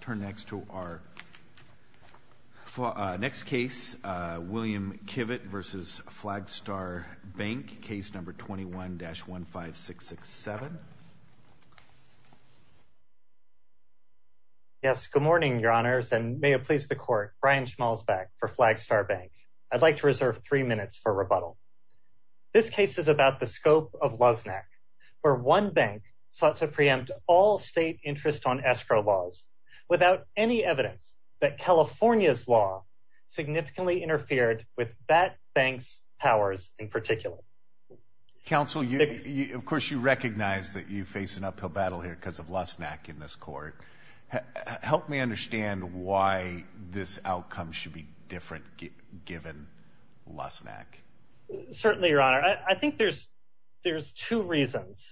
Turn next to our next case, William Kivett v. Flagstar Bank, case number 21-15667. Yes, good morning, your honors, and may it please the court, Brian Schmalzbeck for Flagstar Bank. I'd like to reserve three minutes for rebuttal. This case is about the scope of Luznak, where one bank sought to preempt all state interest on escrow laws without any evidence that California's law significantly interfered with that bank's powers in particular. Counsel, of course you recognize that you face an uphill battle here because of Luznak in this court. Help me understand why this outcome should be different given Luznak. Certainly, I think there's two reasons.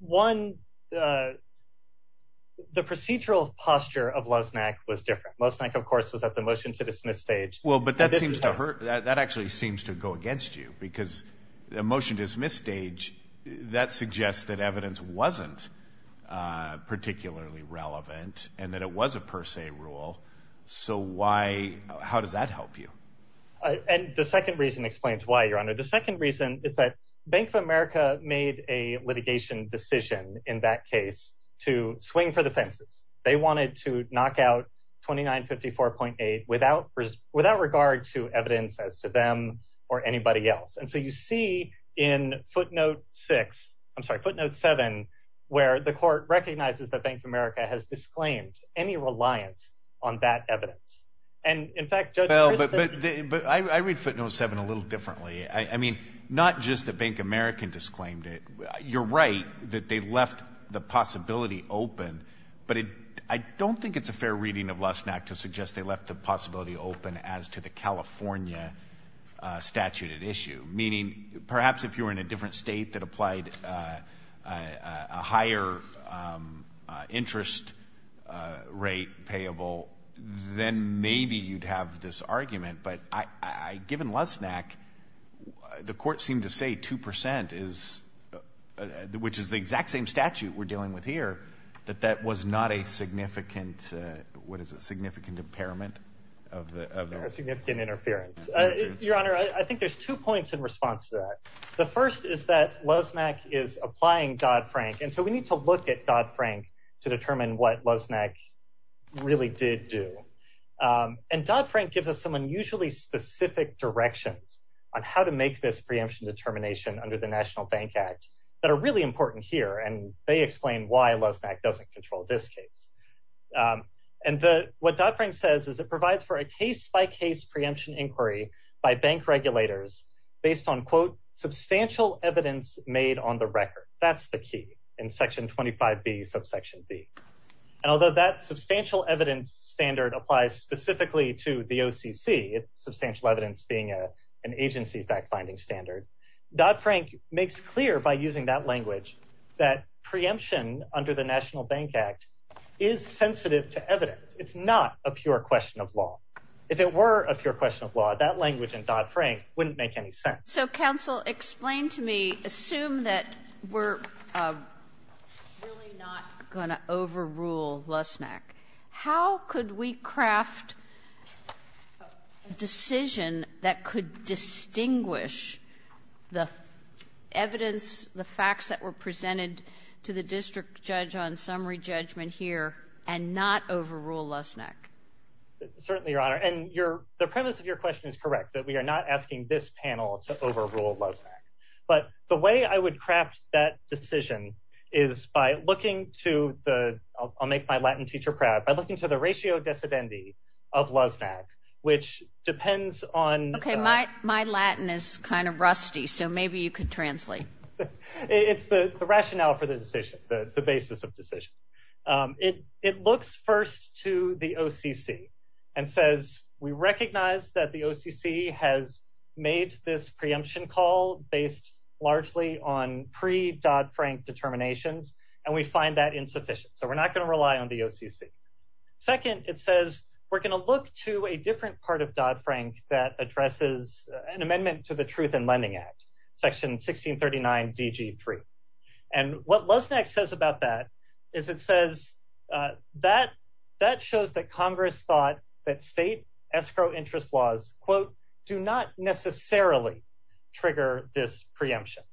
One, the procedural posture of Luznak was different. Luznak, of course, was at the motion-to-dismiss stage. Well, but that actually seems to go against you because the motion-to-dismiss stage, that suggests that evidence wasn't particularly relevant and that it was a per se rule. So how does that help you? And the second reason explains why, your is that Bank of America made a litigation decision in that case to swing for the fences. They wanted to knock out 2954.8 without regard to evidence as to them or anybody else. And so you see in footnote six, I'm sorry, footnote seven, where the court recognizes that Bank of America has disclaimed any reliance on that evidence. And in fact, Judge- Well, but I read footnote seven a little differently. I mean, not just that Bank of America disclaimed it. You're right that they left the possibility open, but I don't think it's a fair reading of Luznak to suggest they left the possibility open as to the California statute at issue. Meaning perhaps if you were in a different state that applied a higher interest rate payable, then maybe you'd have this argument. But given Luznak, the court seemed to say 2%, which is the exact same statute we're dealing with here, that that was not a significant, what is it, significant impairment of- A significant interference. Your Honor, I think there's two points in response to that. The first is that Luznak is applying Dodd-Frank. And so we need to look at Dodd-Frank to determine what Luznak really did do. And Dodd-Frank gives us some unusually specific directions on how to make this preemption determination under the National Bank Act that are really important here. And they explain why Luznak doesn't control this case. And what Dodd-Frank says is it provides for a case-by-case preemption inquiry by bank regulators based on, quote, substantial evidence made on the record. That's the key in section 25B, subsection B. And although that substantial evidence standard applies specifically to the OCC, substantial evidence being an agency fact-finding standard, Dodd-Frank makes clear by using that language that preemption under the National Bank Act is sensitive to evidence. It's not a pure question of law. If it were a pure question of law, that language in Dodd-Frank wouldn't make any sense. So counsel, explain to me, assume that we're really not going to overrule Luznak. How could we craft a decision that could distinguish the evidence, the facts that were presented to the district judge on summary judgment here, and not overrule Luznak? Certainly, Your Honor. And the premise of your question is correct, that we are not asking this panel to overrule Luznak. But the way I would craft that decision is by looking to the, I'll make my Latin teacher proud, by looking to the ratio dissidenti of Luznak, which depends on- Okay, my Latin is kind of rusty, so maybe you could translate. It's the rationale for the decision, the basis of decision. It looks first to the OCC and says, we recognize that the OCC has made this preemption call based largely on pre-Dodd-Frank determinations, and we find that insufficient. So we're not going to rely on the OCC. Second, it says, we're going to look to a different part of Dodd-Frank that addresses an amendment to the Truth in Lending Act, section 1639 DG 3. And what Luznak says about that is it says, that shows that Congress thought that state escrow interest laws, quote, do not necessarily trigger this preemption.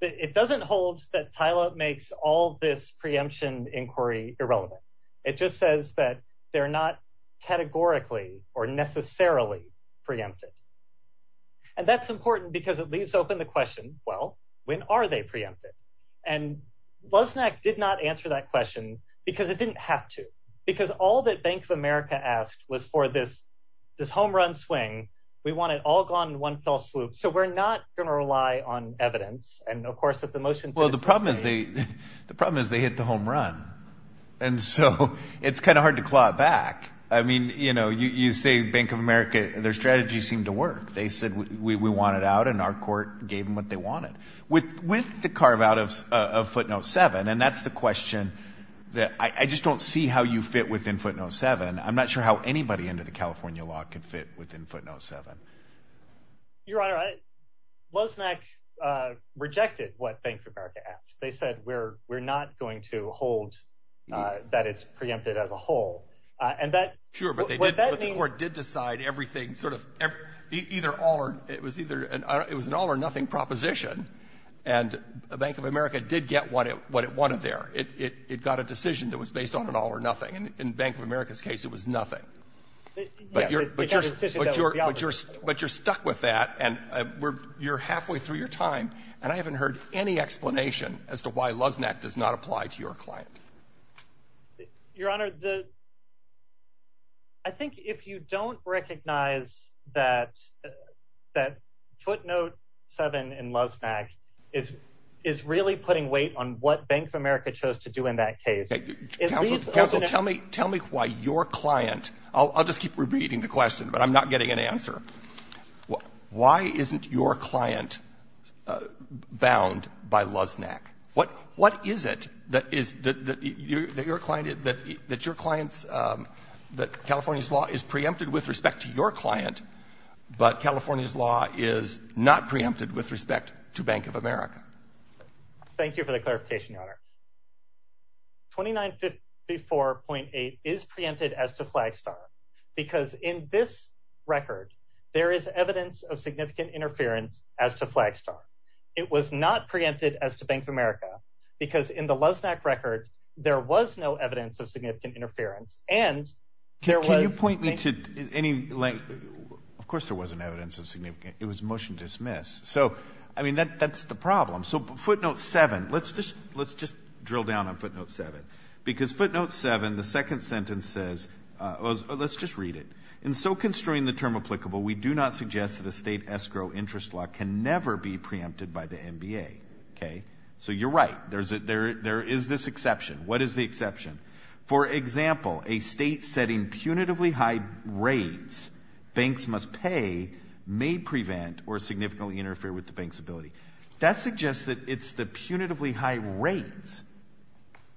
It doesn't hold that Tyler makes all this preemption inquiry irrelevant. It just says that they're not well, when are they preempted? And Luznak did not answer that question, because it didn't have to, because all that Bank of America asked was for this, this home run swing. We want it all gone in one fell swoop. So we're not going to rely on evidence. And of course, that the motion- Well, the problem is they, the problem is they hit the home run. And so it's kind of hard to claw it back. I mean, you know, you say Bank of America, their strategy seemed to work. They said we want it out. And our court gave them what they wanted with the carve out of footnote seven. And that's the question that I just don't see how you fit within footnote seven. I'm not sure how anybody into the California law could fit within footnote seven. Your Honor, Luznak rejected what Bank of America asked. They said, we're not going to hold that it's preempted as a whole. And that- It was an all or nothing proposition. And Bank of America did get what it wanted there. It got a decision that was based on an all or nothing. And in Bank of America's case, it was nothing. But you're stuck with that. And you're halfway through your time. And I haven't heard any explanation as to why Luznak does not apply to your client. Your Honor, I think if you don't recognize that footnote seven in Luznak is really putting weight on what Bank of America chose to do in that case- Counsel, tell me why your client, I'll just keep repeating the question, but I'm not getting an answer. Why isn't your client bound by Luznak? What is it that your clients, that California's law is preempted with respect to your client, but California's law is not preempted with respect to Bank of America? Thank you for the clarification, Your Honor. 2954.8 is preempted as to Flagstar because in this record, there is evidence of significant interference as to Flagstar. It was not preempted as to Bank of America because in the Luznak record, there was no evidence of significant interference. And there was- Can you point me to any, of course, there wasn't evidence of significant, it was motion dismiss. So, I mean, that's the problem. So footnote seven, let's just drill down on footnote seven. Because footnote seven, the second sentence says, let's just read it. In so constrained the term applicable, we do not suggest that a state escrow interest law can never be preempted by the NBA. Okay, so you're right. There is this exception. What is the exception? For example, a state setting punitively high rates banks must pay may prevent or significantly interfere with the bank's ability. That suggests that it's the punitively high rates.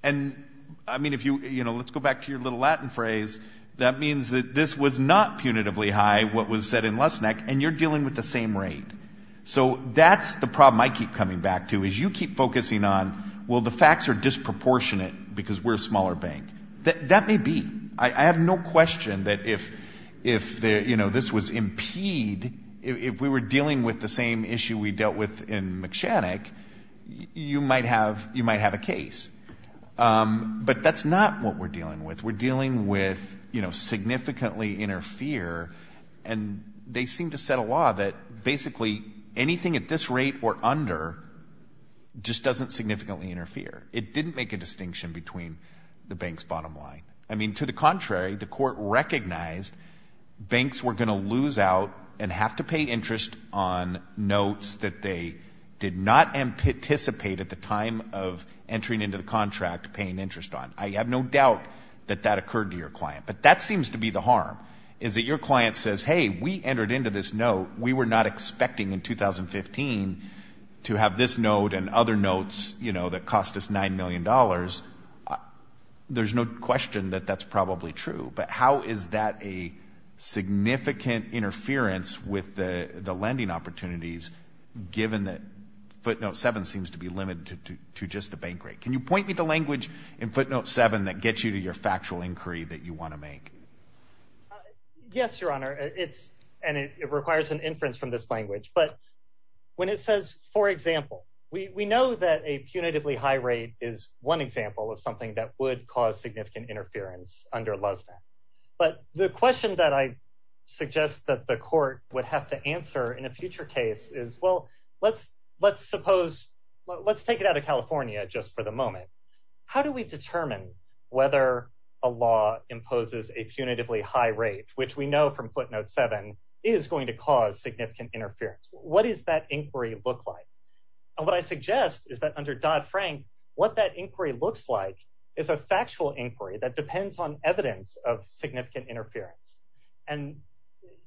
And I mean, if you, you know, let's go back to your little Latin phrase. That means that this was not punitively high, what was said in Luznak, and you're dealing with the same rate. So that's the problem I keep coming back to, is you keep focusing on, well, the facts are disproportionate because we're a smaller bank. That may be. I have no question that if, you know, this was impede, if we were dealing with the same issue we dealt with in McShannock, you might have a case. But that's not what we're dealing with. We're dealing with, you know, significantly interfere. And they seem to set a law that basically anything at this rate or under just doesn't significantly interfere. It didn't make a distinction between the bank's bottom line. I mean, to the contrary, the court recognized banks were going to lose out and have to pay interest on notes that they did not anticipate at the time of entering into the contract paying interest on. I have no doubt that that occurred to your client. But that seems to be the harm, is that your client says, hey, we entered into this note. We were not expecting in 2015 to have this note and other notes, you know, that cost us $9 million. There's no question that that's probably true. But how is that a significant interference with the lending opportunities given that footnote seven seems to be limited to just the bank rate? Can you point me to language in footnote seven that gets you to your factual inquiry that you want to make? Yes, Your Honor. It's and it requires an inference from this language. But when it says, for example, we know that a punitively high rate is one example of something that would cause significant interference under Luzna. But the question that I suggest that the court would have to answer in a future case is, well, let's let's suppose let's take it out of California just for the moment. How do we determine whether a law imposes a punitively high rate, which we know from footnote seven is going to cause significant interference? What is that inquiry look like? And what I suggest is that under Dodd-Frank, what that inquiry looks like is a factual inquiry that depends on evidence of significant interference. And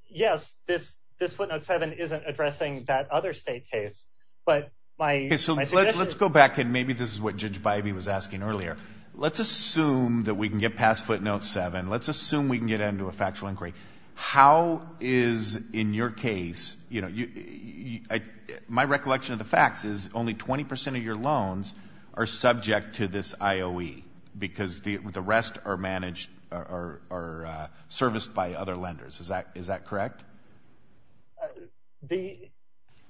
yes, this this footnote seven isn't addressing that other state case. But let's go back and maybe this is what Judge Bybee was asking earlier. Let's assume that we can get past footnote seven. Let's assume we can get into a factual inquiry. How is in your case, you know, my recollection of the facts is only 20 percent of your loans are subject to this IOE because the rest are managed or are serviced by other lenders. Is that is that correct? The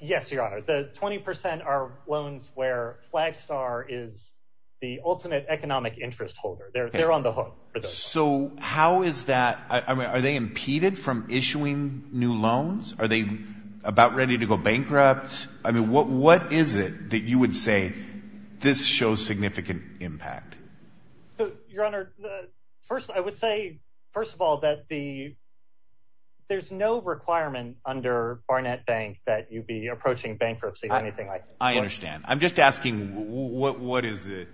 yes, your honor, the 20 percent are loans where Flagstar is the ultimate economic interest holder there. They're on the hook. So how is that? I mean, are they impeded from issuing new loans? Are they about ready to go bankrupt? I mean, what what is it that you would say this shows significant impact? So, your honor, first, I would say, first of all, that the there's no requirement under Barnett Bank that you'd be approaching bankruptcy or anything like that. I understand. I'm just asking, what is it?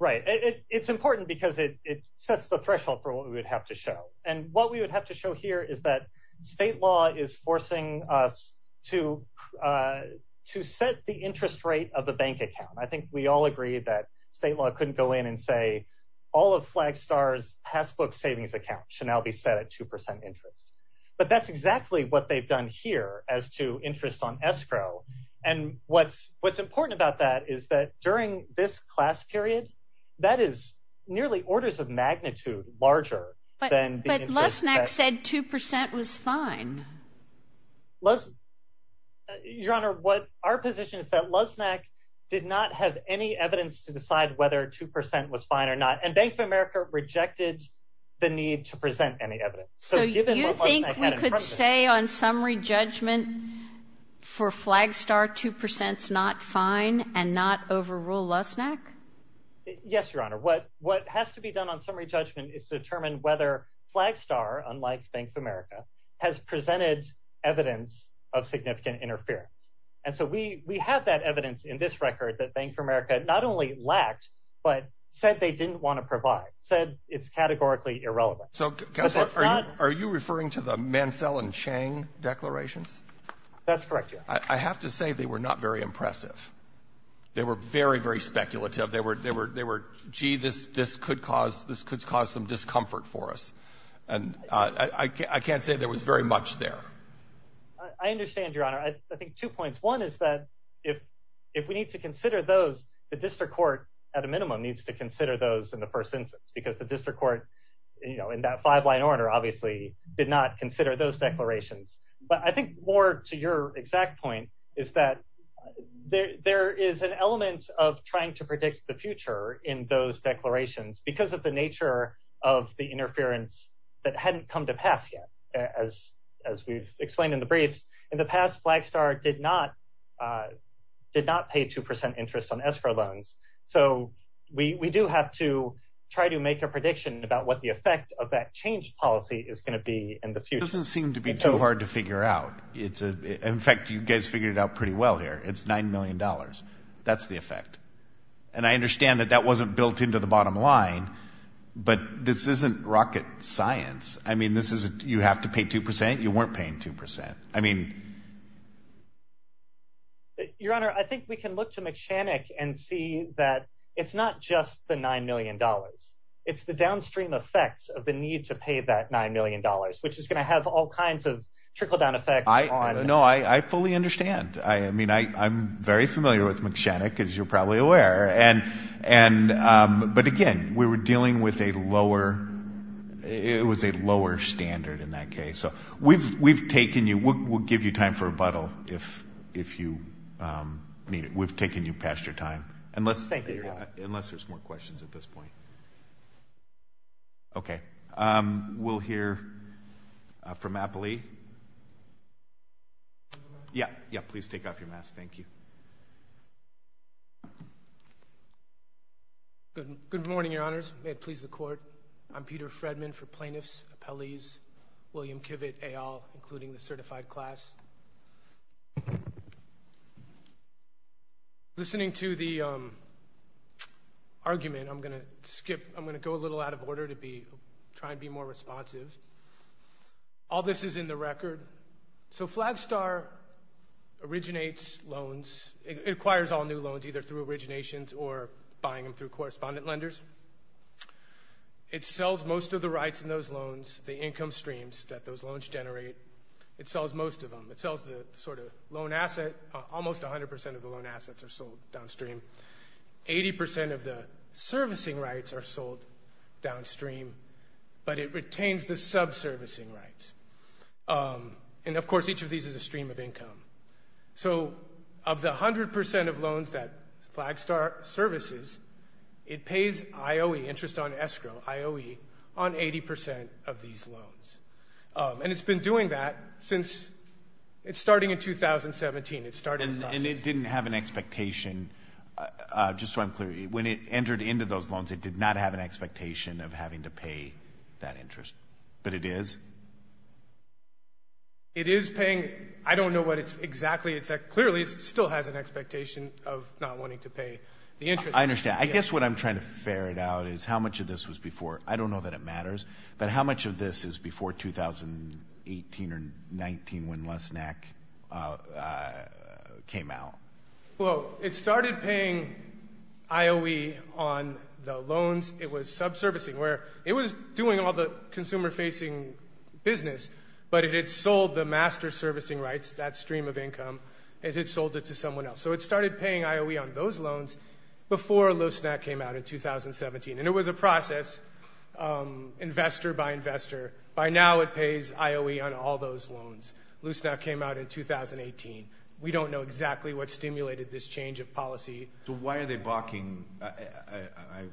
Right. It's important because it sets the threshold for what we would have to show. And what we would have to show here is that state law is forcing us to to set the interest rate of the bank account. I think we all agree that state law couldn't go in and say all of Flagstar's passbook savings account should now be set at 2 percent interest. But that's exactly what they've done here as to interest on escrow. And what's what's important about that is that during this class period, that is nearly orders of magnitude larger than Lesnick said. Two percent was fine. Les. Your honor, what our position is that Lesnick did not have any evidence to decide whether 2 percent was fine or not. And Bank of America rejected the need to present any evidence. So you think you could say on summary judgment for Flagstar, two percent's not fine and not overrule Lesnick? Yes, your honor. What what has to be done on summary judgment is determine whether Flagstar, unlike Bank of America, has presented evidence of significant interference. And so we we have that evidence in this record that Bank of America not only lacked, but said they didn't want to provide said it's categorically irrelevant. So are you referring to the Mansell and Chang declarations? That's correct. I have to say they were not very impressive. They were very, very speculative. They were they were they were gee, this this could cause this could cause some discomfort for us. And I can't say there was very there. I understand, your honor. I think two points. One is that if if we need to consider those, the district court at a minimum needs to consider those in the first instance, because the district court, you know, in that five line order obviously did not consider those declarations. But I think more to your exact point is that there there is an element of trying to predict the future in those declarations because of the nature of the interference that hadn't come to pass yet as as we've explained in the briefs in the past, Flagstar did not did not pay two percent interest on escrow loans. So we do have to try to make a prediction about what the effect of that change policy is going to be in the future. It doesn't seem to be too hard to figure out. It's in fact, you guys figured it out pretty well here. It's nine million dollars. That's the effect. And I understand that that wasn't built into the bottom line. But this isn't rocket science. I mean, you have to pay two percent. You weren't paying two percent. I mean. Your Honor, I think we can look to McShannock and see that it's not just the nine million dollars. It's the downstream effects of the need to pay that nine million dollars, which is going to have all kinds of trickle down effect. I know I fully understand. I mean, I'm very familiar with McShannock, as you're probably aware. And and but again, we were dealing with a lower it was a lower standard in that case. So we've we've taken you. We'll give you time for rebuttal if if you mean it. We've taken you past your time. And let's thank you. Unless there's more questions at this point. OK, we'll hear from Appley. Yeah. Yeah. Please take off your mask. Thank you. Good. Good morning, Your Honors. May it please the court. I'm Peter Fredman for plaintiffs, appellees, William Kivitt, et al., including the certified class. Listening to the argument, I'm going to skip. I'm going to go a little out of order to be try and be more responsive. All this is in the record. So Flagstar originates loans. It acquires all new loans, either through originations or buying them through correspondent lenders. It sells most of the rights in those loans, the income streams that those loans generate. It sells most of them. It sells the sort of loan asset. Almost 100 percent of the loan assets are sold downstream. Eighty percent of the servicing rights are sold downstream, but it retains the subservicing rights. And of course, each of these is a stream of income. So of the 100 percent of IOE, interest on escrow, IOE on 80 percent of these loans. And it's been doing that since it's starting in 2017. It started. And it didn't have an expectation. Just so I'm clear, when it entered into those loans, it did not have an expectation of having to pay that interest. But it is. It is paying. I don't know what it's exactly. It's clearly still has an expectation of not wanting to pay the interest. I understand. I guess what I'm trying to ferret out is how much of this was before. I don't know that it matters, but how much of this is before 2018 or 19 when Loessnack came out? Well, it started paying IOE on the loans. It was subservicing. It was doing all the consumer-facing business, but it had sold the master servicing rights, that stream of income, as it sold it to someone else. So it started paying IOE on those loans before Loessnack came out in 2017. And it was a process, investor by investor. By now, it pays IOE on all those loans. Loessnack came out in 2018. We don't know exactly what stimulated this change of policy. So why are they balking?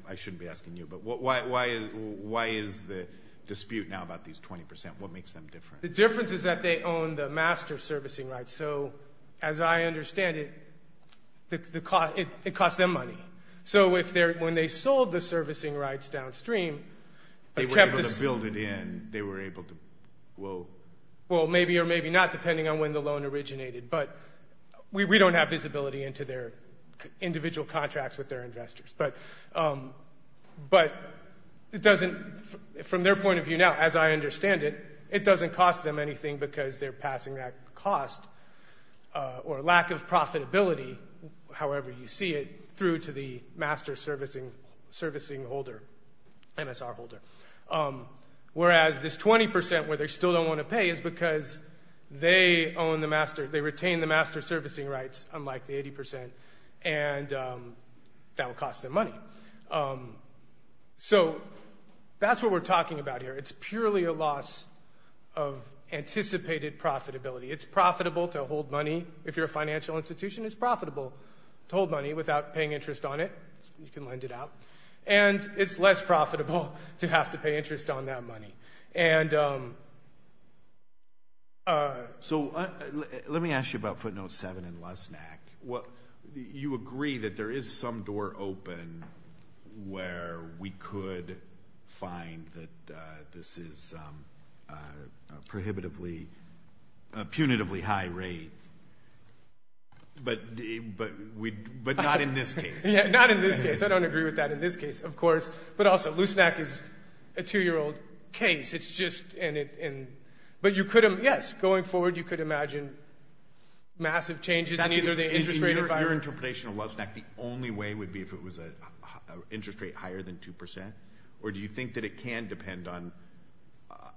I shouldn't be asking you, but why is the dispute now about these 20 percent? What makes them different? The difference is that they own the master servicing rights. So as I understand it, it costs them money. So when they sold the servicing rights downstream- They were able to build it in. They were able to, whoa. Well, maybe or maybe not, depending on when the loan originated. But we don't have visibility into their individual contracts with their investors. But from their point of view now, as I understand it, it doesn't cost them anything because they're passing that cost, or lack of profitability, however you see it, through to the master servicing holder, MSR holder. Whereas this 20 percent where they still don't want to pay is because they own the master, they retain the master servicing rights, unlike the 80 percent, and that will cost them money. So that's what we're talking about here. It's purely a loss of anticipated profitability. It's profitable to hold money. If you're a financial institution, it's profitable to hold money without paying interest on it. You can lend it out. And it's less profitable to have to pay interest on that money. And- So let me ask you about footnote seven in LUSNAC. You agree that there is some door open where we could find that this is a punitively high rate, but not in this case. Yeah, not in this case. I don't agree with that in this case, of course. But also, LUSNAC is a two-year-old case. It's just- But you could- Yes, going forward, you could imagine massive changes in either the interest rate- In your interpretation of LUSNAC, the only way would be if it was an interest rate higher than two percent? Or do you think that it can depend on-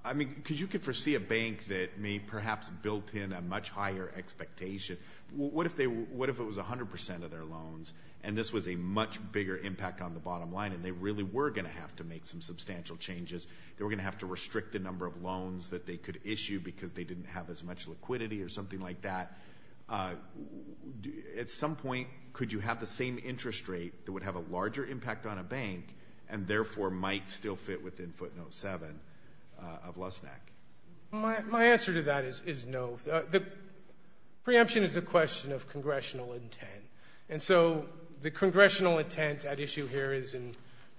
I mean, because you could foresee a bank that may perhaps built in a much higher expectation. What if it was 100 percent of their loans, and this was a much bigger impact on bottom line, and they really were going to have to make some substantial changes? They were going to have to restrict the number of loans that they could issue because they didn't have as much liquidity or something like that. At some point, could you have the same interest rate that would have a larger impact on a bank, and therefore might still fit within footnote seven of LUSNAC? My answer to that is no. The preemption is a question of congressional intent. And so the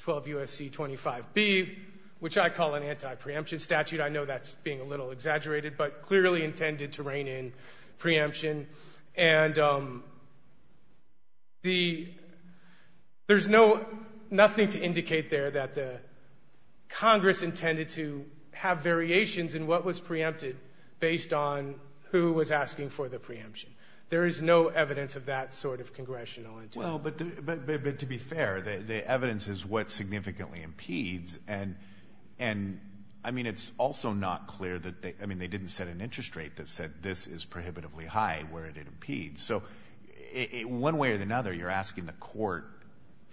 12 U.S.C. 25B, which I call an anti-preemption statute, I know that's being a little exaggerated, but clearly intended to rein in preemption. And there's nothing to indicate there that the Congress intended to have variations in what was preempted based on who was asking for the preemption. There is no evidence of that sort of congressional intent. Well, but to be fair, the evidence is what significantly impedes. And I mean, it's also not clear that they, I mean, they didn't set an interest rate that said this is prohibitively high where it impedes. So one way or another, you're asking the court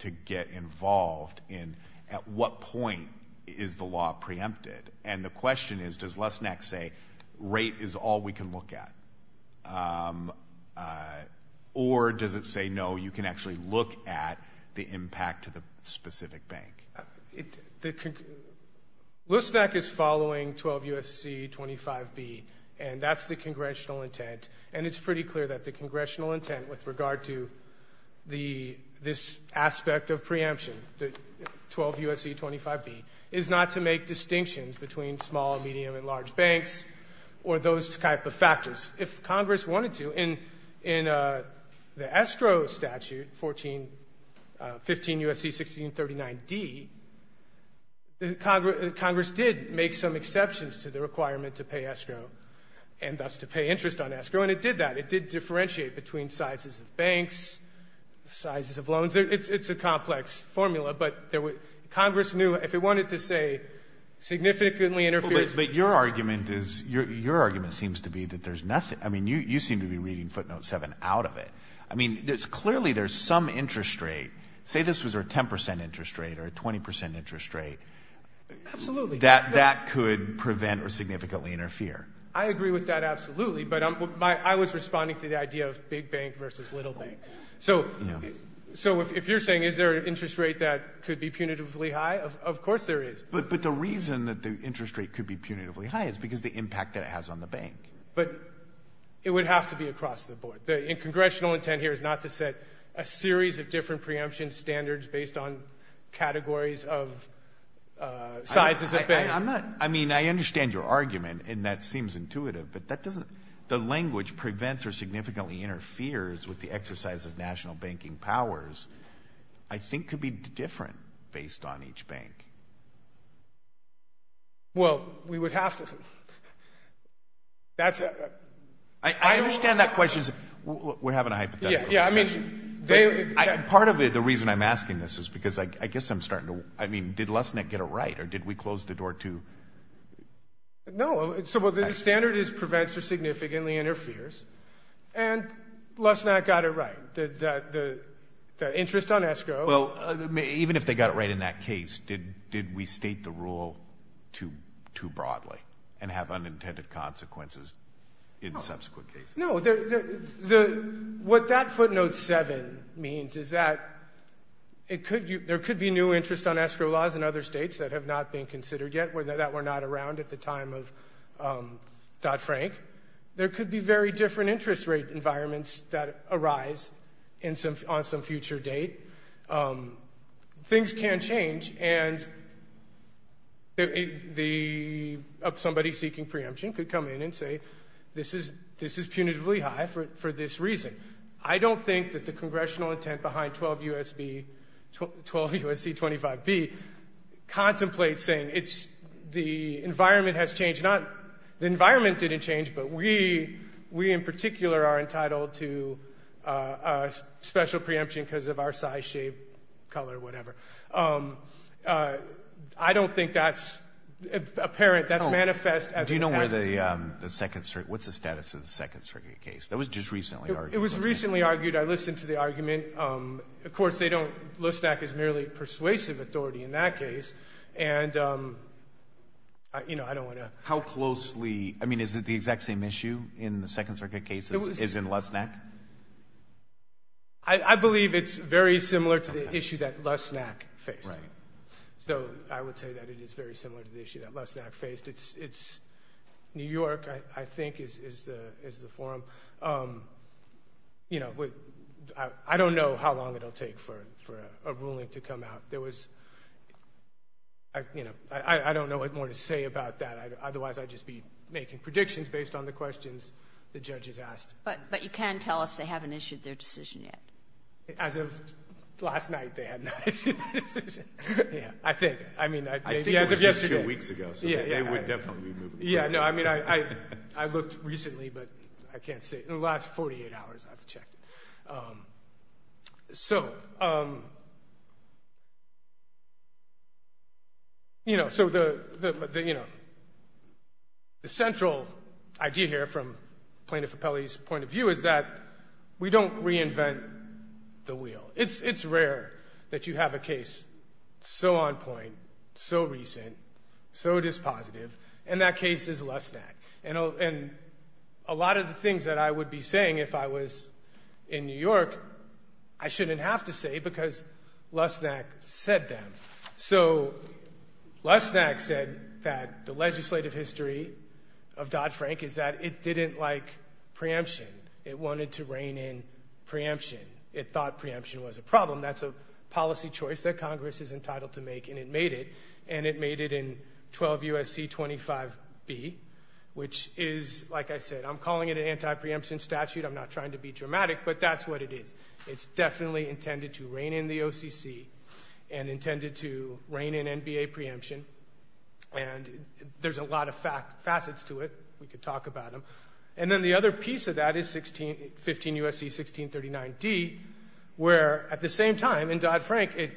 to get involved in at what point is the law preempted. And the question is, does LUSNAC say rate is all we can look at? Or does it say, no, you can actually look at the impact to the specific bank? LUSNAC is following 12 U.S.C. 25B, and that's the congressional intent. And it's pretty clear that the congressional intent with regard to this aspect of preemption, the 12 U.S.C. 25B, is not to make distinctions between small, medium, and large banks or those type of factors. If Congress wanted to, in the escrow statute, 14 15 U.S.C. 1639d, Congress did make some exceptions to the requirement to pay escrow, and thus to pay interest on escrow. And it did that. It did differentiate between sizes of banks, sizes of loans. It's a complex formula. But Congress knew if it wanted to say significantly interferes with the law. You seem to be reading footnote 7 out of it. Clearly, there's some interest rate, say this was a 10% interest rate or a 20% interest rate, that could prevent or significantly interfere. I agree with that, absolutely. But I was responding to the idea of big bank versus little bank. So if you're saying, is there an interest rate that could be punitively high? Of course there is. But the reason that the interest rate could be punitively high is because the impact that it has on the bank. But it would have to be across the board. The congressional intent here is not to set a series of different preemption standards based on categories of sizes of banks. I'm not, I mean, I understand your argument, and that seems intuitive, but that doesn't, the language prevents or significantly interferes with the exercise of national banking powers, I think could be different based on each bank. Well, we would have to, that's a... I understand that question. We're having a hypothetical discussion. Yeah, I mean, they... Part of it, the reason I'm asking this is because I guess I'm starting to, I mean, did Lesnick get it right or did we close the door to... No, so the standard is prevents or significantly interferes. And Lesnick got it right. The interest on escrow... Even if they got it right in that case, did we state the rule too broadly and have unintended consequences in subsequent cases? No, what that footnote seven means is that there could be new interest on escrow laws in other states that have not been considered yet, that were not around at the time of Dodd-Frank. There could be very different interest rate environments that arise on some future date. Things can change. And somebody seeking preemption could come in and say, this is punitively high for this reason. I don't think that the congressional intent behind 12 U.S.C. 25B contemplates saying the environment has changed. The environment didn't change, but we, in particular, are entitled to a special preemption because of our size, shape, color, whatever. I don't think that's apparent. That's manifest as... Do you know where the second... What's the status of the second circuit case? That was just recently argued. It was recently argued. I listened to the argument. Of course, they don't... Lesnick is merely persuasive authority in that case. And I don't want to... How closely... I mean, is it the exact same issue in the second circuit case as in Lesnick? I believe it's very similar to the issue that Lesnick faced. Right. So I would say that it is very similar to the issue that Lesnick faced. It's New York, I think, is the forum. I don't know how long it'll take for a ruling to come out. There was... I don't know what more to say about that. Otherwise, I'd just be making predictions based on the questions the judges asked. But you can tell us they haven't issued their decision yet. As of last night, they have not issued their decision. Yeah, I think. I mean, maybe as of yesterday. I think it was just two weeks ago, so they would definitely be moving forward. Yeah, no. I mean, I looked recently, but I can't say. In the last 48 hours, I've checked it. So, you know, the central idea here from Plaintiff Appellee's point of view is that we don't reinvent the wheel. It's rare that you have a case so on point, so recent, so dispositive, and that case is Lesnick. And a lot of the things that I would be saying if I was in New York, I shouldn't have to say, because Lesnick said them. So Lesnick said that the legislative history of Dodd-Frank is that it didn't like preemption. It wanted to rein in preemption. It thought preemption was a problem. That's a policy choice that Congress is entitled to make, and it made it, and it made it in 12 U.S.C. 25B, which is, like I said, I'm calling it an anti-preemption statute. I'm not trying to be dramatic, but that's what it is. It's definitely intended to rein in the OCC and intended to rein in NBA preemption, and there's a lot of facets to it. We could talk about them. And then the other piece of that is 15 U.S.C. 1639D, where, at the same time, in Dodd-Frank, it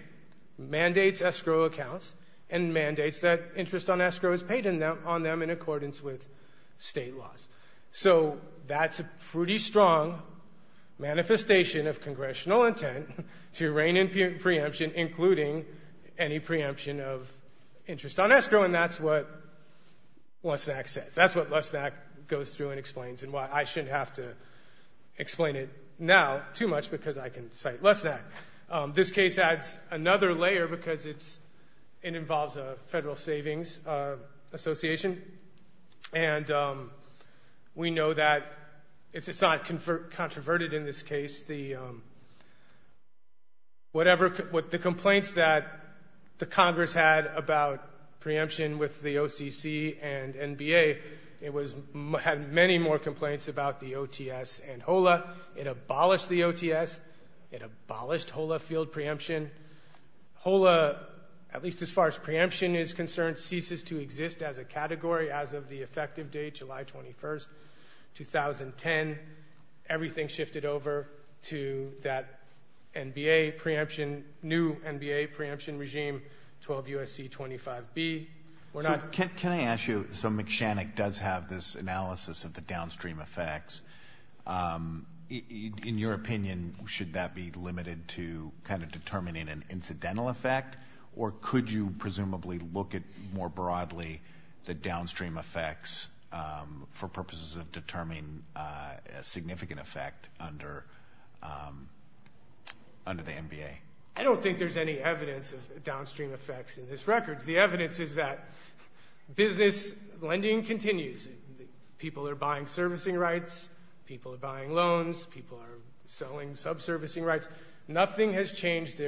mandates escrow accounts and mandates that interest on escrow is paid on them in accordance with state laws. So that's a pretty strong manifestation of congressional intent to rein in preemption, including any preemption of interest on escrow, and that's what Lesnick says. That's what Lesnick goes through and explains, and why I shouldn't have to explain it now too much, because I can cite Lesnick. This case adds another layer, because it involves a Federal Savings Association, and we know that it's not controverted in this case. The complaints that the Congress had about preemption with the OCC and NBA, it had many more complaints about the OTS and HOLA. It abolished the OTS. It abolished HOLA field preemption. HOLA, at least as far as preemption is concerned, ceases to exist as a category as of the effective date, July 21, 2010. Everything shifted over to that NBA preemption, new NBA preemption regime, 12 U.S.C. 25B. Can I ask you, so McShannock does have this analysis of the downstream effects. In your opinion, should that be limited to kind of determining an incidental effect, or could you presumably look at more broadly the downstream effects for purposes of determining a significant effect under the NBA? I don't think there's any evidence of downstream effects in this record. The evidence is that business lending continues. People are buying servicing rights. People are buying loans. People are selling subservicing rights. Nothing has changed.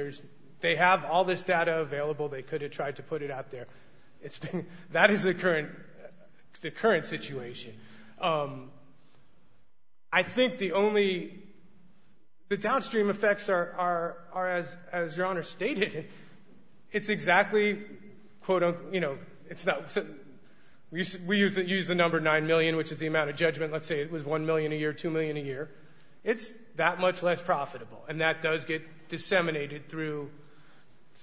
They have all this data available. They could have tried to put it out there. That is the current situation. I think the only — the downstream effects are, as Your Honor stated, it's exactly quote-unquote, you know, it's not — we use the number 9 million, which is the amount of judgment, let's say it was 1 million a year, 2 million a year. It's that much less profitable, and that does get disseminated through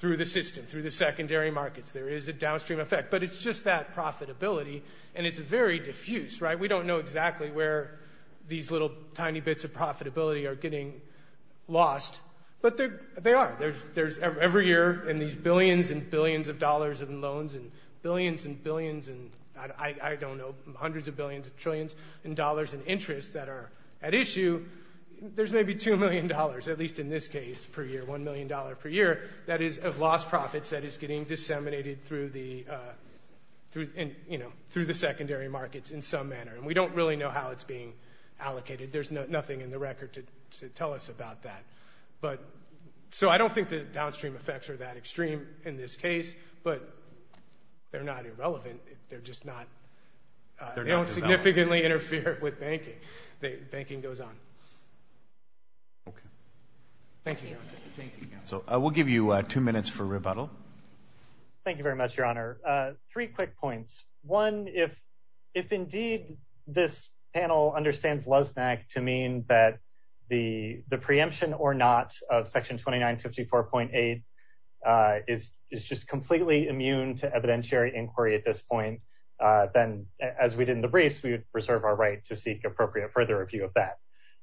the system, through the secondary markets. There is a downstream effect, but it's just that profitability, and it's very diffuse. We don't know exactly where these little tiny bits of profitability are getting lost, but they are. There's every year in these billions and billions of dollars in loans, and billions and billions, and I don't know, hundreds of billions of trillions in dollars in interest that are at issue, there's maybe $2 million, at least in this case, per year, $1 million per year, that is of lost profits that is getting disseminated through the secondary markets in some manner, and we don't really know how it's being allocated. There's nothing in the record to tell us about that. So I don't think the downstream effects are that extreme in this case, but they're not irrelevant. They're just not — they don't significantly interfere with banking. Banking goes on. Thank you, Your Honor. Thank you, counsel. We'll give you two minutes for rebuttal. Thank you very much, Your Honor. Three quick points. One, if indeed this panel understands Loznak to mean that the preemption or not of Section 2954.8 is just completely immune to evidentiary inquiry at this point, then as we did in the briefs, we would reserve our right to seek appropriate further review of that.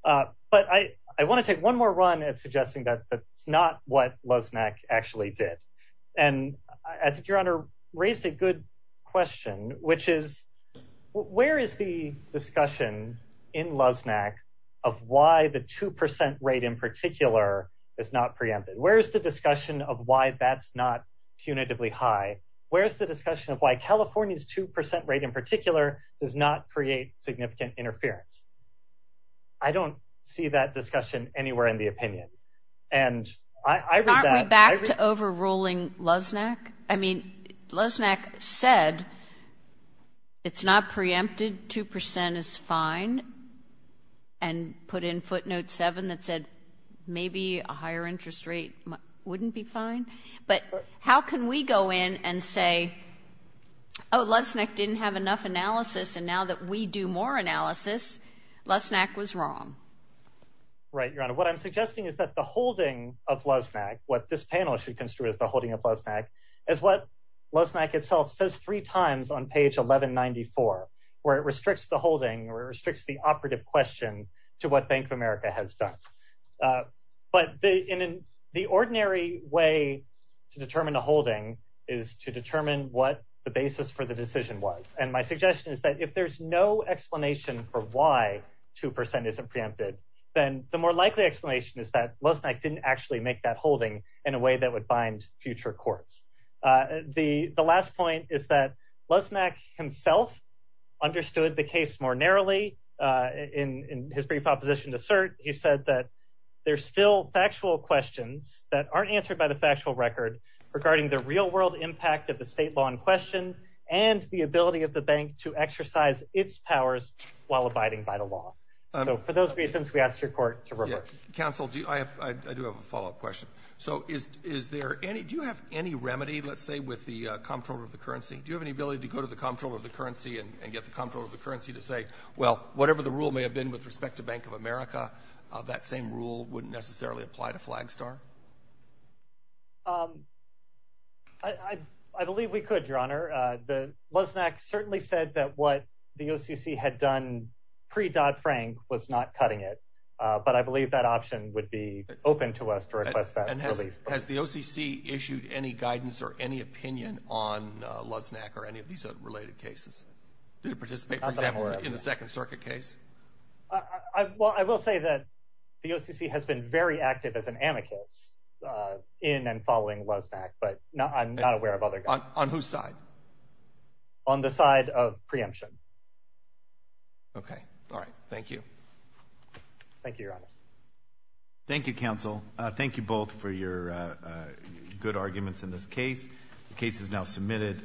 But I want to take one more run at suggesting that that's not what Loznak actually did. And I think Your Honor raised a good question, which is where is the discussion in Loznak of why the 2% rate in particular is not preempted? Where is the discussion of why that's not punitively high? Where's the discussion of why California's 2% rate in particular does not create significant interference? I don't see that discussion anywhere in the opinion. And I read that — Aren't we back to overruling Loznak? I mean, Loznak said it's not preempted, 2% is fine, and put in footnote 7 that said maybe a higher interest rate wouldn't be fine. But how can we go in and say, oh, Loznak didn't have enough analysis, and now that we do more analysis, Loznak was wrong? Right, Your Honor. What I'm suggesting is that the holding of Loznak, what this panel should construe as the holding of Loznak, is what Loznak itself says three times on page 1194, where it restricts the holding or restricts the operative question to what Bank of America has done. But the ordinary way to determine a holding is to determine what the basis for the decision was. And my suggestion is that if there's no explanation for why 2% isn't preempted, then the more likely explanation is that Loznak didn't actually make that holding in a way that would bind future courts. The last point is that Loznak himself understood the case more narrowly. In his brief opposition to cert, he said that there's still factual questions that aren't answered by the factual record regarding the real-world impact of the state law in question and the ability of the bank to exercise its powers while abiding by the law. So for those reasons, we ask your court to reverse. Counsel, I do have a follow-up question. So do you have any remedy, let's say, with the comptroller of the currency? Do you have any ability to go to the comptroller of the currency and get the comptroller of the currency to say, well, whatever the rule may have been with respect to Bank of America, that same rule wouldn't necessarily apply to Flagstar? I believe we could, Your Honor. Loznak certainly said that what the OCC had done pre-Dodd-Frank was not cutting it. But I believe that option would be open to us to request that relief. And has the OCC issued any guidance or any opinion on Loznak or any of these related cases? Did he participate, for example, in the Second Circuit case? Well, I will say that the OCC has been very active as an amicus in and following Loznak, but I'm not aware of other guys. On whose side? On the side of preemption. Okay. All right. Thank you. Thank you, Your Honor. Thank you, Counsel. Thank you both for your good arguments in this case. The case is now submitted.